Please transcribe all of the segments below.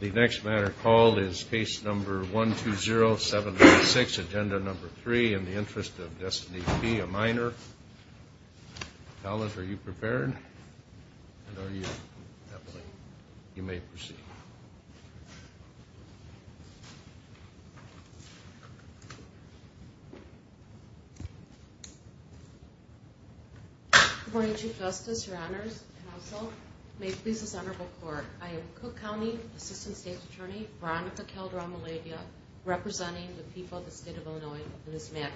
The next matter called is case number 12076, agenda number three, in the interest of Destiny P., a minor. Talbot, are you prepared? You may proceed. Good morning, Chief Justice, Your Honors, and also, may it please this honorable court, I am Cook County Assistant State's Attorney, Veronica Calderon-Malavia, representing the people of the state of Illinois in this matter.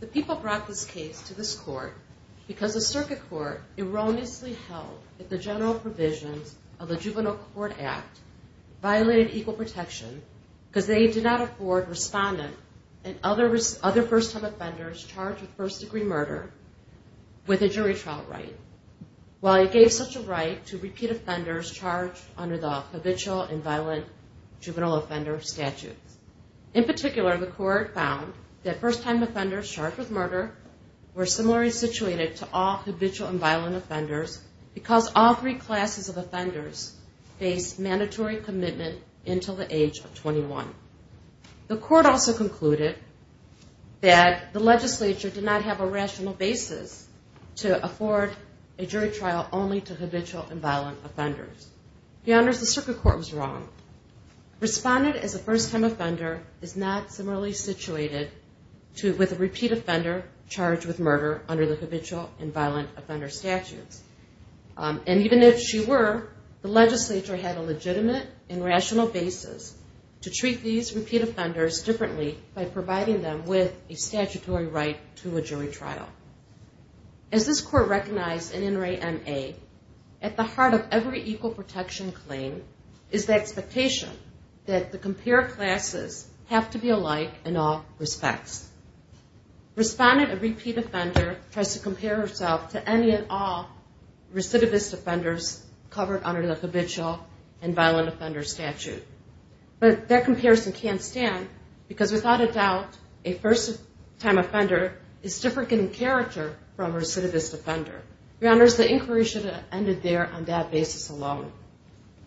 The people brought this case to this court because the circuit court erroneously held that the general provisions of the Juvenile Court Act violated equal protection because they did not afford respondent and other first-time offenders charged with first-degree murder with a jury trial right, while it gave such a right to repeat offenders charged under the habitual and violent juvenile offender statutes. In particular, the court found that first-time offenders charged with murder were similarly situated to all habitual and violent offenders because all three classes of offenders faced mandatory commitment until the age of 21. The court also concluded that the legislature did not have a rational basis to afford a jury trial only to habitual and violent offenders. Your Honors, the circuit court was wrong. Respondent as a first-time offender is not similarly situated with a repeat offender charged with murder under the habitual and violent offender statutes. And even if she were, the legislature had a legitimate and rational basis to treat these repeat offenders differently by providing them with a statutory right to a jury trial. As this court recognized in In Re Ma, at the heart of every equal protection claim is the expectation that the compared classes have to be alike in all respects. Respondent, a repeat offender, tries to compare herself to any and all recidivist offenders covered under the habitual and violent offender statute. But that comparison can't stand because without a doubt, a first-time offender is different in character from a recidivist offender. Your Honors, the inquiry should have ended there on that basis alone.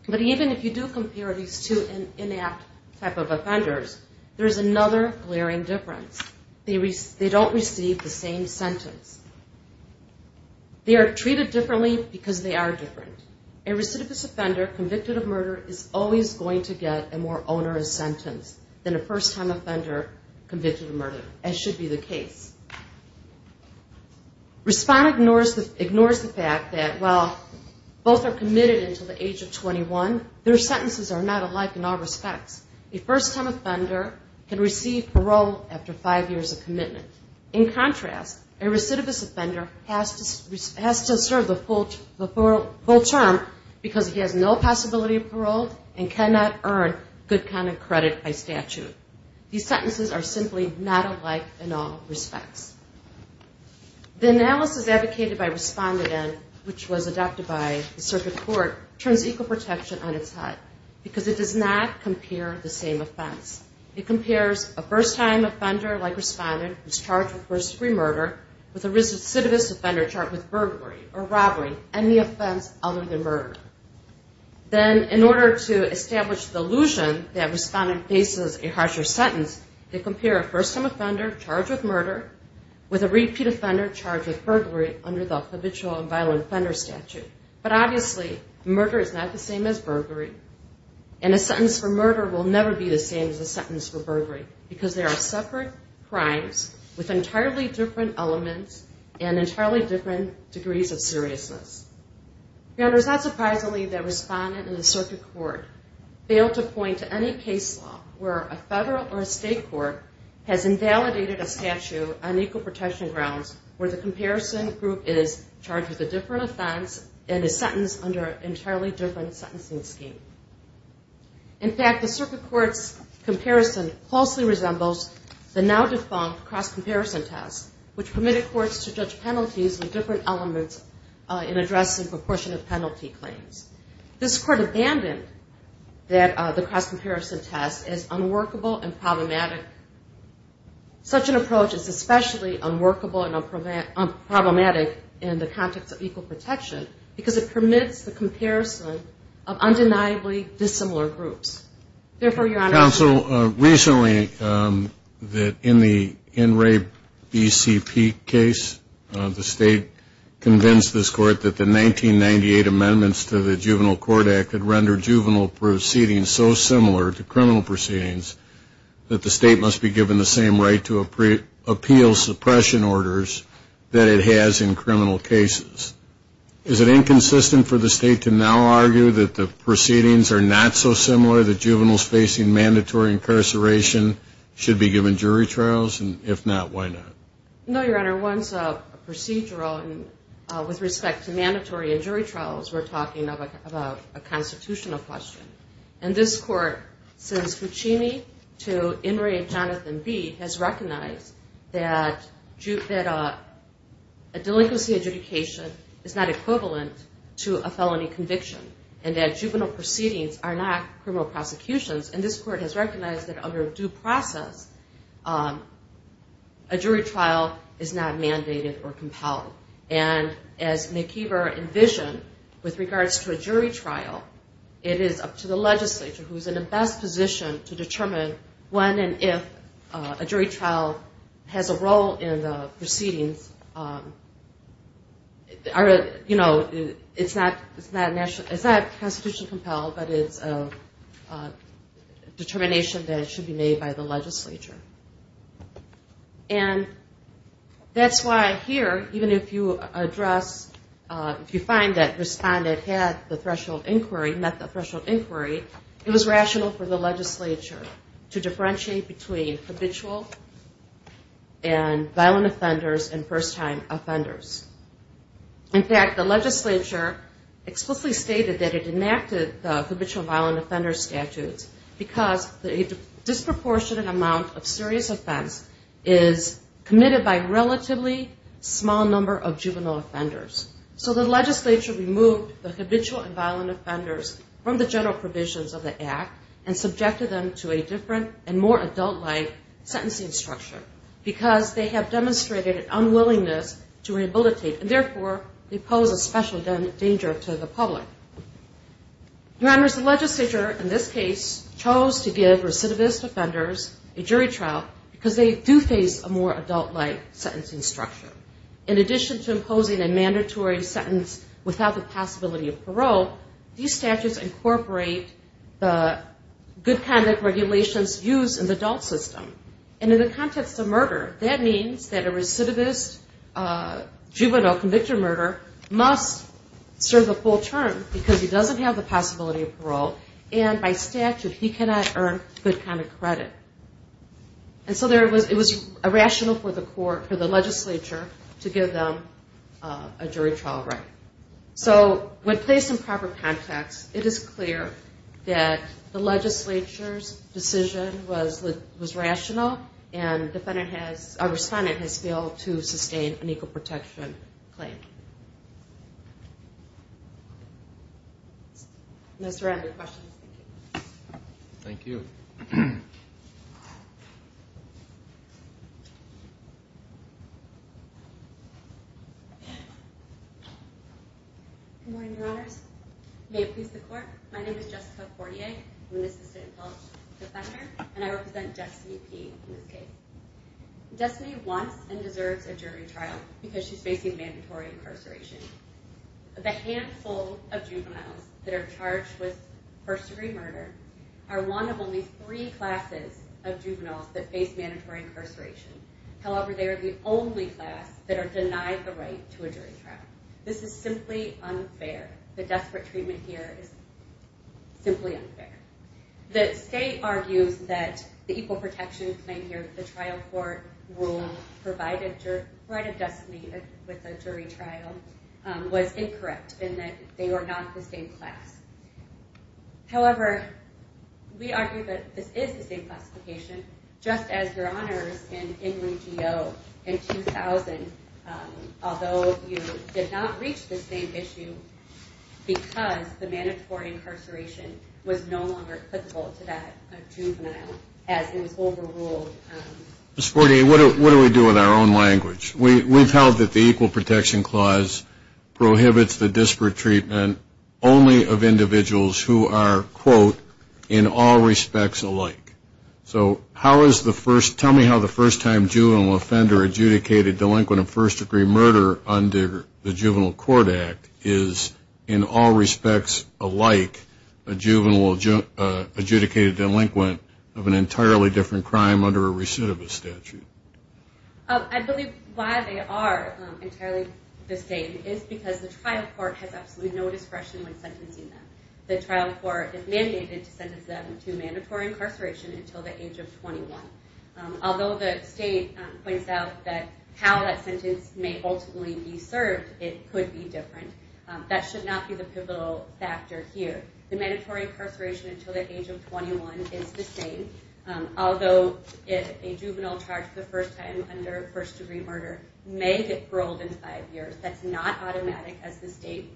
But even if you do compare these two inapt type of offenders, there is another glaring difference. They don't receive the same sentence. They are treated differently because they are different. A recidivist offender convicted of murder is always going to get a more onerous sentence than a first-time offender convicted of murder, as should be the case. Respondent ignores the fact that while both are committed until the age of 21, their sentences are not alike in all respects. A first-time offender can receive parole after five years of commitment. In contrast, a recidivist offender has to serve the full term because he has no possibility of parole and cannot earn good conduct credit by statute. These sentences are simply not alike in all respects. The analysis advocated by Respondent N, which was adopted by the Circuit Court, turns equal protection on its head because it does not compare the same offense. It compares a first-time offender like Respondent who is charged with first-degree murder with a recidivist offender charged with burglary or robbery, any offense other than murder. Then, in order to establish the illusion that Respondent faces a harsher sentence, they compare a first-time offender charged with murder with a repeat offender charged with burglary under the habitual and violent offender statute. But obviously, murder is not the same as burglary, and a sentence for murder will never be the same as a sentence for burglary because they are separate crimes with entirely different elements and entirely different degrees of seriousness. It is not surprisingly that Respondent and the Circuit Court fail to point to any case law where a federal or a state court has invalidated a statute on equal protection grounds where the comparison group is charged with a different offense and a different degree of seriousness. And is sentenced under an entirely different sentencing scheme. In fact, the Circuit Court's comparison closely resembles the now-defunct cross-comparison test, which permitted courts to judge penalties with different elements in addressing proportionate penalty claims. This Court abandoned the cross-comparison test as unworkable and problematic. Such an approach is especially unworkable and problematic in the context of equal protection because it does not compare the same offense. It is not unworkable because it permits the comparison of undeniably dissimilar groups. Therefore, Your Honor, I... Counsel, recently, in the inrape BCP case, the State convinced this Court that the 1998 amendments to the Juvenile Court Act could render juvenile proceedings so similar to criminal proceedings that the State must be given the same right to appeal suppression orders that it has in criminal cases. Is it consistent for the State to now argue that the proceedings are not so similar that juveniles facing mandatory incarceration should be given jury trials? And if not, why not? No, Your Honor. Once a procedural, with respect to mandatory and jury trials, we're talking about a constitutional question. And this Court, since Cuccini to Inrape Jonathan Bee, has recognized that a delinquency adjudication is not equivalent to a criminal case. It's equivalent to a felony conviction. And that juvenile proceedings are not criminal prosecutions. And this Court has recognized that under due process, a jury trial is not mandated or compelled. And as McKeever envisioned, with regards to a jury trial, it is up to the legislature, who's in the best position to determine when and if a jury trial has a role in the proceedings. And it's, you know, it's not constitutionally compelled, but it's a determination that should be made by the legislature. And that's why here, even if you address, if you find that respondent had the threshold inquiry, met the threshold inquiry, it was rational for the legislature to differentiate between habitual and violent offenders and personal offenders. And the legislature explicitly stated that it enacted the habitual and violent offender statutes because a disproportionate amount of serious offense is committed by a relatively small number of juvenile offenders. So the legislature removed the habitual and violent offenders from the general provisions of the Act and subjected them to a different and more adult-like sentencing structure. Because they have demonstrated an unwillingness to do so. They have demonstrated an unwillingness to rehabilitate. And therefore, they pose a special danger to the public. Your Honors, the legislature in this case chose to give recidivist offenders a jury trial because they do face a more adult-like sentencing structure. In addition to imposing a mandatory sentence without the possibility of parole, these statutes incorporate the good conduct regulations used in the adult system. And in the context of murder, that means that a recidivist is not a criminal offender. A juvenile convicted of murder must serve a full term because he doesn't have the possibility of parole. And by statute, he cannot earn good conduct credit. And so it was rational for the court, for the legislature to give them a jury trial right. So when placed in proper context, it is clear that the legislature's decision was rational and a respondent has failed to sustain a jury trial. And therefore, it was a rational decision. And therefore, it is clear that the legislature's decision was rational and a respondent has failed to sustain a jury trial. No surrounding questions. Thank you. Good morning, Your Honors. May it please the Court. My name is Jessica Cordier. I'm an assistant public defender and I represent Destiny P. in this case. Destiny wants and deserves a jury trial because she's facing mandatory incarceration. The handful of juveniles that are charged with first degree murder are one of only three classes of juveniles that face mandatory incarceration. However, they are the only class that are denied the right to a jury trial. This is simply unfair. The desperate treatment here is simply unfair. The state argues that the equal protection claim here, the trial court rule, provided Destiny with a jury trial, was incorrect in that they were not the same class. However, we argue that this is the same classification. Just as, Your Honors, in NWGO, in 2000, although you did not reach the same issue because the mandatory incarceration was no longer valid, it was no longer applicable to that juvenile as it was overruled. Ms. Cordier, what do we do in our own language? We've held that the equal protection clause prohibits the desperate treatment only of individuals who are, quote, in all respects alike. So how is the first, tell me how the first time juvenile offender adjudicated delinquent of first degree murder under the Juvenile Court Act is, in all respects alike, a juvenile offender. And how is the second time adjudicated delinquent of an entirely different crime under a recidivist statute? I believe why they are entirely the same is because the trial court has absolutely no discretion when sentencing them. The trial court is mandated to sentence them to mandatory incarceration until the age of 21. Although the state points out that how that sentence may ultimately be served, it could be different. That should not be the pivotal factor here. The mandatory incarceration until the age of 21 is the same, although a juvenile charged the first time under first degree murder may get paroled in five years. That's not automatic as the state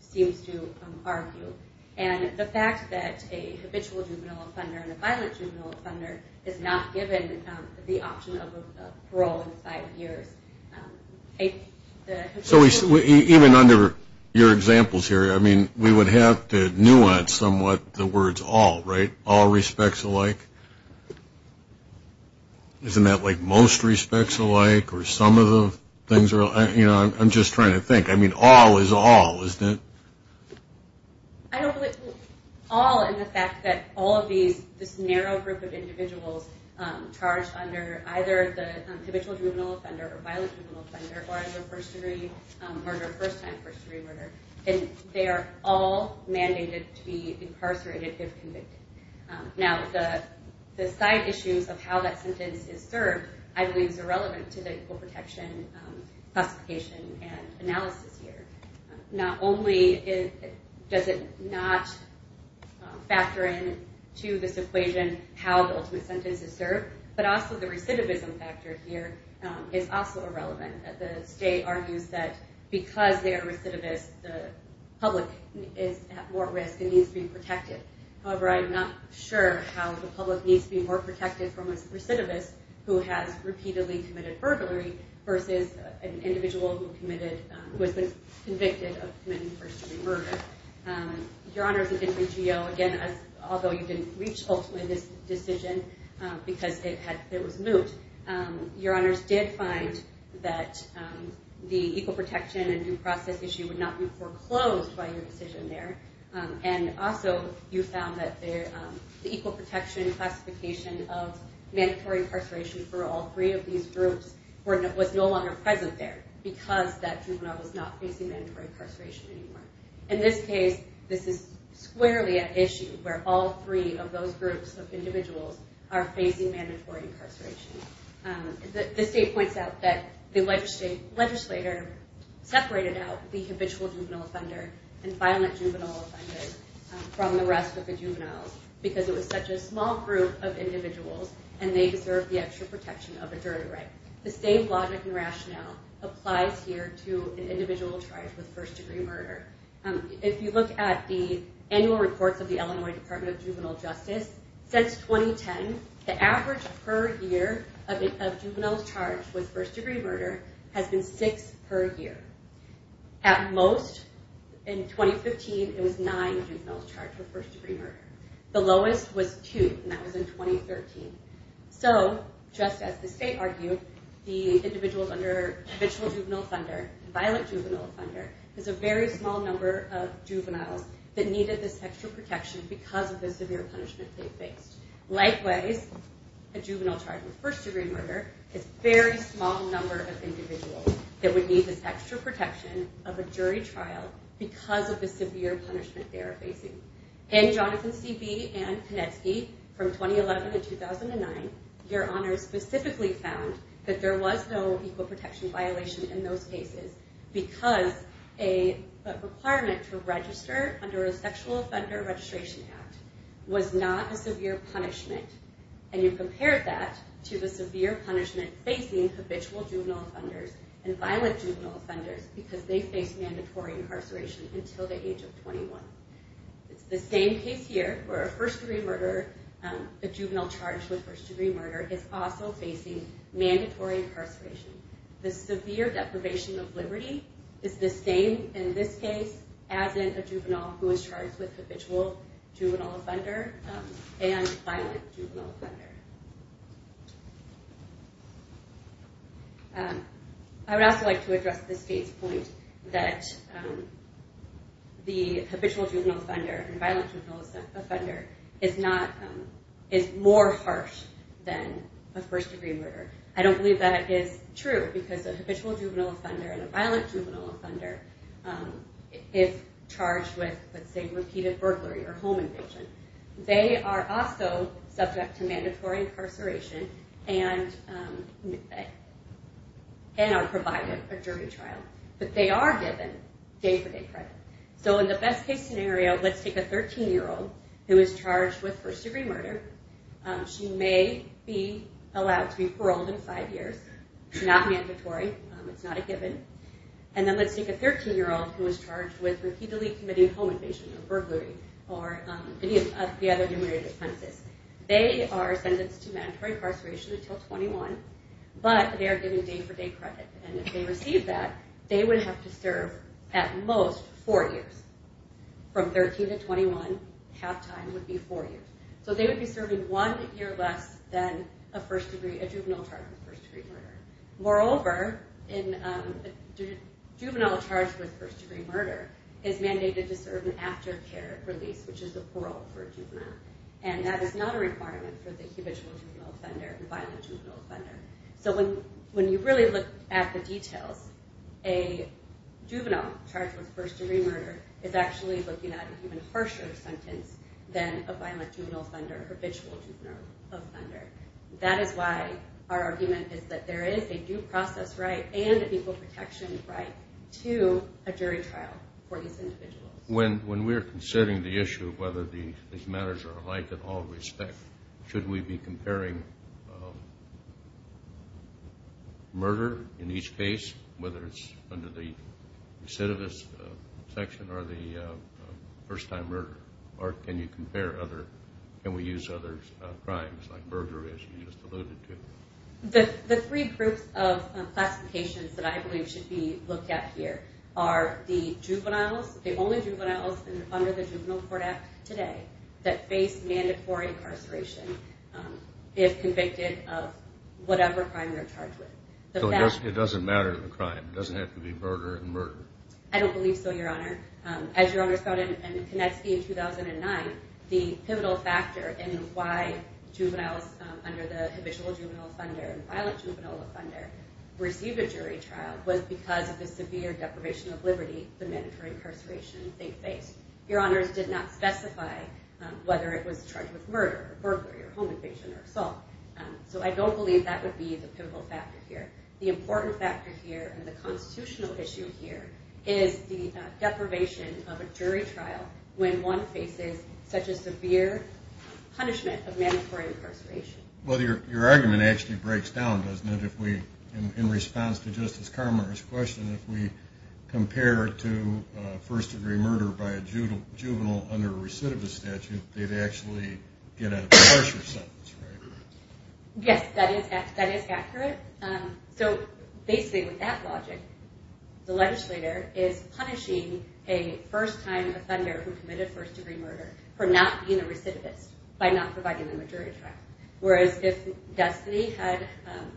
seems to argue. And the fact that a habitual juvenile offender and a violent juvenile offender is not given the option of parole in five years. So even under your examples here, we would have to nuance somewhat the words all, right? All respects alike? Isn't that like most respects alike? Or some of the things, I'm just trying to think. I mean, all is all, isn't it? I don't believe, all in the fact that all of these, this narrow group of individuals charged under either the habitual juvenile offender or violent juvenile offender, or under first degree, or their first time first degree murder, and they are all mandated to be incarcerated if convicted. Now, the side issues of how that sentence is served, I believe, is irrelevant to the Equal Protection classification and analysis here. Not only does it not factor in to this equation how the ultimate sentence is served, but also the recidivism factor here is also irrelevant. The state argues that because they are recidivists, the public is at more risk and needs to be protected. However, I'm not sure how the public needs to be more protected from a recidivist who has repeatedly committed burglary, versus an individual who committed, who has been convicted of committing first degree murder. Your Honors, it didn't reach you, again, although you didn't reach, hopefully, this decision, because it was moot. Your Honors did find that the Equal Protection and due process issue would not be foreclosed by your decision there. And also, you found that the Equal Protection classification of mandatory incarceration for all three of these groups was no longer present there, because that juvenile was not facing mandatory incarceration anymore. In this case, this is squarely at issue, where all three of those groups of individuals are facing mandatory incarceration. The state points out that the legislator separated out the habitual juvenile offender and violent juvenile offender from the rest of the juveniles, because it was such a small group of individuals, and they deserve the extra protection of a jury rank. The same logic and rationale applies here to an individual charged with first degree murder. If you look at the annual reports of the Illinois Department of Juvenile Justice, since 2010, the average per year of juveniles charged with first degree murder has been six per year. At most, in 2015, it was nine juveniles charged with first degree murder. The lowest was two, and that was in 2013. So, just as the state argued, the individuals under habitual juvenile offender and violent juvenile offender, there's a very small number of juveniles that needed this extra protection because of the severe punishment. Likewise, a juvenile charged with first degree murder is a very small number of individuals that would need this extra protection of a jury trial because of the severe punishment they are facing. In Jonathan C.B. and Konecki, from 2011 to 2009, your honors specifically found that there was no equal protection violation in those cases, because a requirement to register under a sexual offender registration act was not a requirement. There was no severe punishment, and you compare that to the severe punishment facing habitual juvenile offenders and violent juvenile offenders because they face mandatory incarceration until the age of 21. It's the same case here, where a first degree murderer, a juvenile charged with first degree murder, is also facing mandatory incarceration. The severe deprivation of liberty is the same in this case as in a juvenile who is charged with habitual juvenile offender. And violent juvenile offender. I would also like to address the state's point that the habitual juvenile offender and violent juvenile offender is more harsh than a first degree murderer. I don't believe that is true because a habitual juvenile offender and a violent juvenile offender is charged with, let's say, repeated burglary or home invasion. They are also subject to mandatory incarceration and are provided a jury trial. But they are given day-for-day credit. So in the best case scenario, let's take a 13-year-old who is charged with first degree murder. She may be allowed to be paroled in five years. It's not mandatory. It's not a given. And then let's take a 13-year-old who is charged with repeatedly committing home invasion or burglary. They are sentenced to mandatory incarceration until 21. But they are given day-for-day credit. And if they receive that, they would have to serve, at most, four years. From 13 to 21, halftime would be four years. So they would be serving one year less than a juvenile charged with first degree murder. Moreover, a juvenile charged with first degree murder is mandated to serve an aftercare release, which is a parole for a juvenile. And that is not a requirement for the habitual juvenile offender and violent juvenile offender. So when you really look at the details, a juvenile charged with first degree murder is actually looking at an even harsher sentence than a violent juvenile offender or habitual juvenile offender. That is why our argument is that there is a due process right and an equal protection right to a jury trial for these individuals. When we are considering the issue of whether these matters are alike in all respect, should we be comparing murder in each case, whether it's under the recidivist section or the first time murder, or can you compare other, can we use other crimes like murder as you just alluded to? The three groups of classifications that I believe should be looked at here are the juveniles, the only juveniles under the Juvenile Court Act today that face mandatory incarceration if convicted of whatever crime they're charged with. So it doesn't matter the crime, it doesn't have to be murder and murder? I don't believe so, Your Honor. As Your Honor spouted in Konecki in 2009, the pivotal factor in why juveniles under the habitual juvenile offender and violent juvenile offender received a jury trial was because of the severe deprivation of liberty for mandatory incarceration they faced. Your Honors did not specify whether it was charged with murder or burglary or home invasion or assault. So I don't believe that would be the pivotal factor here. The important factor here and the constitutional issue here is the deprivation of a jury trial when one faces such a severe punishment of mandatory incarceration. Well, your argument actually breaks down doesn't it? In response to Justice Carmichael's question, if we compare to first degree murder by a juvenile under a recidivist statute, they'd actually get a harsher sentence, right? Yes, that is accurate. So basically with that logic, the legislator is punishing a first time offender who committed first degree murder for not being a recidivist by not providing them a jury trial. Whereas if Destiny had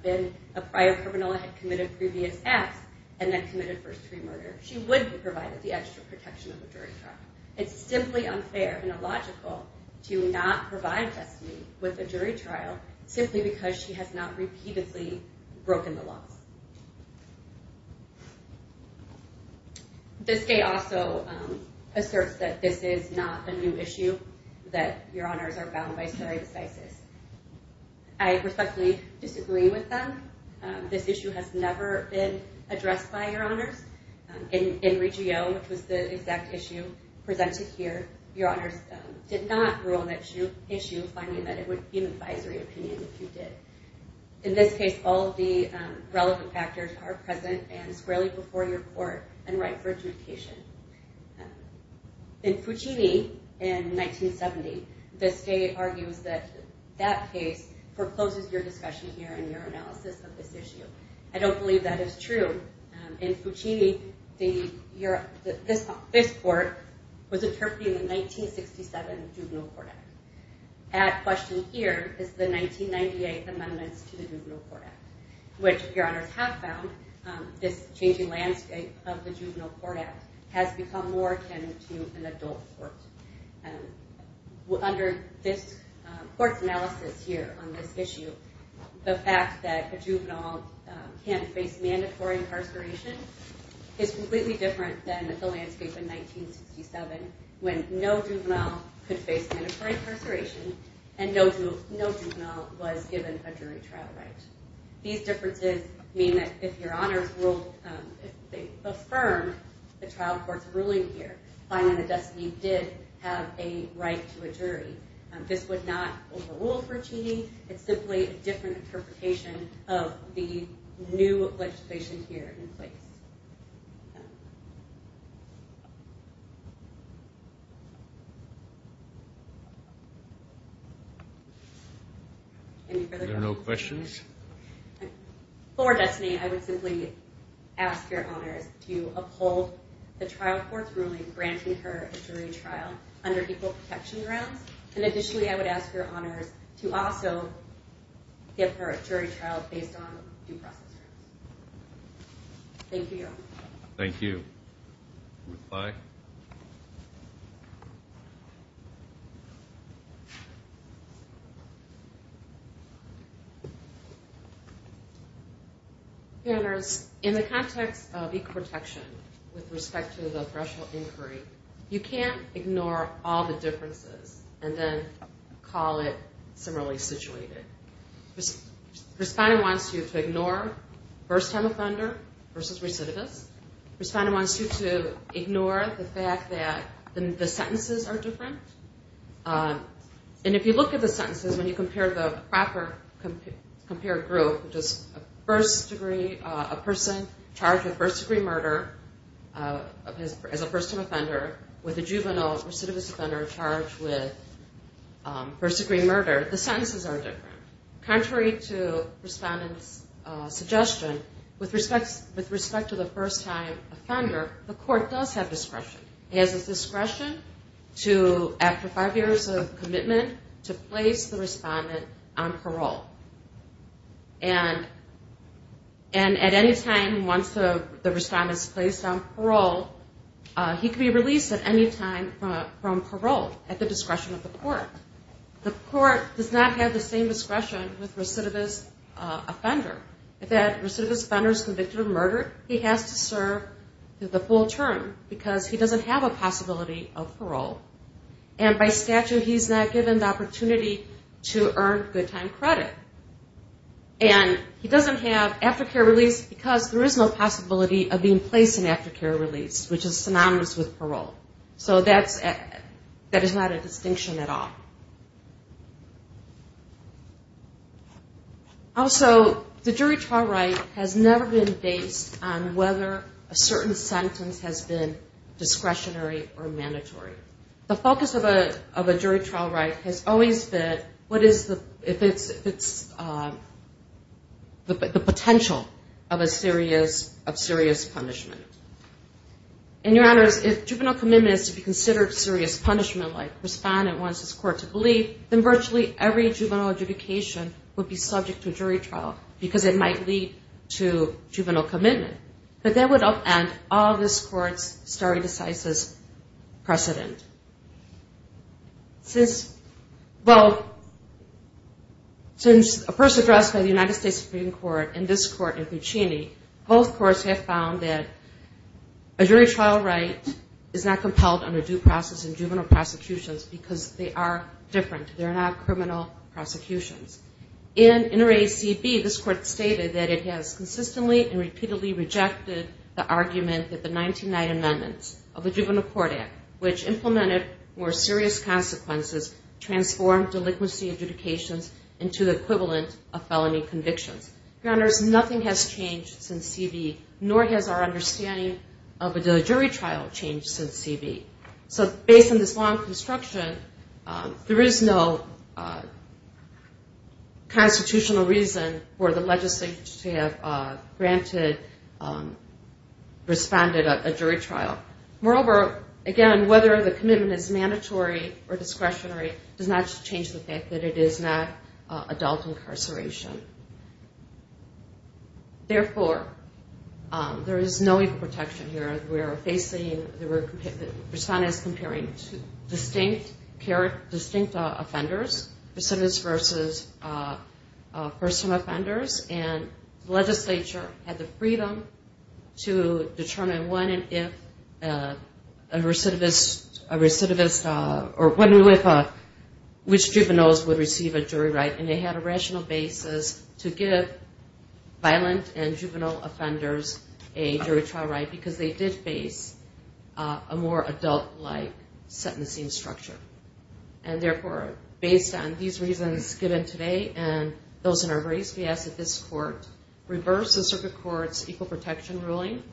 been a prior criminal and had committed previous acts and then committed first degree murder, she would be provided the extra protection of a jury trial. It's simply unfair and illogical to not provide Destiny with a jury trial simply because she has not repeatedly broken the laws. The state also asserts that this is not a new issue, that your honors are bound by jury decises. I respectfully disagree with them. This issue has never been addressed by your honors. In Regio, which was the exact issue presented here, your honors did not rule an issue finding that it would be an advisory opinion if you did. In this case, all of the relevant factors are present and squarely before your court and right for adjudication. In Fucini in 1970, the state argues that that case forecloses your discussion here and your analysis of this issue. I don't believe that is true. In Fucini, this court was interpreting the 1967 Juvenile Court Act. At question here is the 1998 amendments to the Juvenile Court Act, which your honors have found this changing landscape of the Juvenile Court Act has become more akin to an adult court. Under this court's analysis here on this issue, the fact that a juvenile can face mandatory incarceration is completely different than the landscape in 1967 when no juvenile could face mandatory incarceration and no juvenile was given a jury trial right. These differences mean that if your honors ruled, if they affirmed the trial court's ruling here, finding that Destiny did have a right to a jury, this would not overrule Fucini. It's simply a different interpretation of the new legislation here in place. Any further questions? If there are no questions. For Destiny, I would simply ask your honors to uphold the trial court's ruling granting her a jury trial under equal protection grounds. And additionally, I would ask your honors to also give her a jury trial based on due process. Thank you, your honors. Thank you. Ms. Pye. Your honors, in the context of equal protection with respect to the threshold inquiry, you can't ignore all the differences and then call it similarly situated. Respondent wants you to ignore first-time offender versus recidivist. Respondent wants you to ignore the fact that the sentences are different. And if you look at the sentences, when you compare the proper group, a person charged with first-degree murder as a first-time offender with a juvenile recidivist offender charged with first-degree murder, the sentences are different. Contrary to Respondent's suggestion, with respect to the first-time offender, the court does have discretion. It has the discretion to, after five years of commitment, to place the Respondent on parole. And at any time once the Respondent is placed on parole, he can be released at any time from parole at the discretion of the court. The court does not have the same discretion with recidivist offender. If that recidivist offender is convicted of murder, he has to serve the full term because he doesn't have a possibility of parole. And by statute, he's not given the opportunity to earn good time credit. And he doesn't have aftercare release because there is no possibility of being placed in aftercare release, which is synonymous with parole. So that's not a distinction at all. Also, the jury trial right has never been based on whether a certain sentence has been discretionary or mandatory. The focus of a jury trial right has always been if it's the potential of serious punishment. And, Your Honors, if juvenile commitment is to be considered serious punishment like Respondent wants his court to believe, then virtually every juvenile adjudication would be subject to a jury trial because it might lead to juvenile commitment. But that would upend all this court's stare decisis precedent. Well, since a person addressed by the United States Supreme Court and this court in Puccini, both courts have found that a jury trial right is not compelled under due process in juvenile prosecutions because they are different. They're not criminal prosecutions. In InterAce CB, this court stated that it has consistently and repeatedly rejected the argument that the 1990 amendments of the Juvenile Court Act, which implemented more serious consequences, transformed delinquency adjudications into the equivalent of felony convictions. Your Honors, nothing has changed since CB, nor has our understanding of a jury trial. So based on this long construction, there is no constitutional reason for the legislature to have granted Respondent a jury trial. Moreover, again, whether the commitment is mandatory or discretionary does not change the fact that it is not adult incarceration. Therefore, there is no equal protection here. Respondents were comparing distinct offenders, recidivists versus first-time offenders, and the legislature had the freedom to determine when and if a recidivist, or when and if which juveniles would receive a jury right, and they had a rational basis to give violent and juvenile offenders a jury trial right, because they did face a more adult-like sentencing structure. And therefore, based on these reasons given today, and those in our race, we ask that this court reverse the Circuit Court's equal protection ruling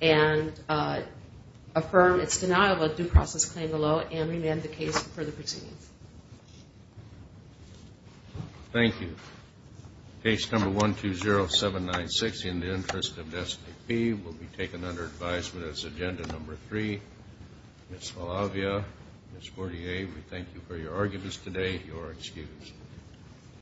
and affirm its denial of a due process claim below and remand the case for the proceedings. Thank you. Case number 120796 in the interest of Destiny Pee will be taken under advisement as agenda number 3. Ms. Fallavia, Ms. Bourdier, we thank you for your arguments today. You are excused.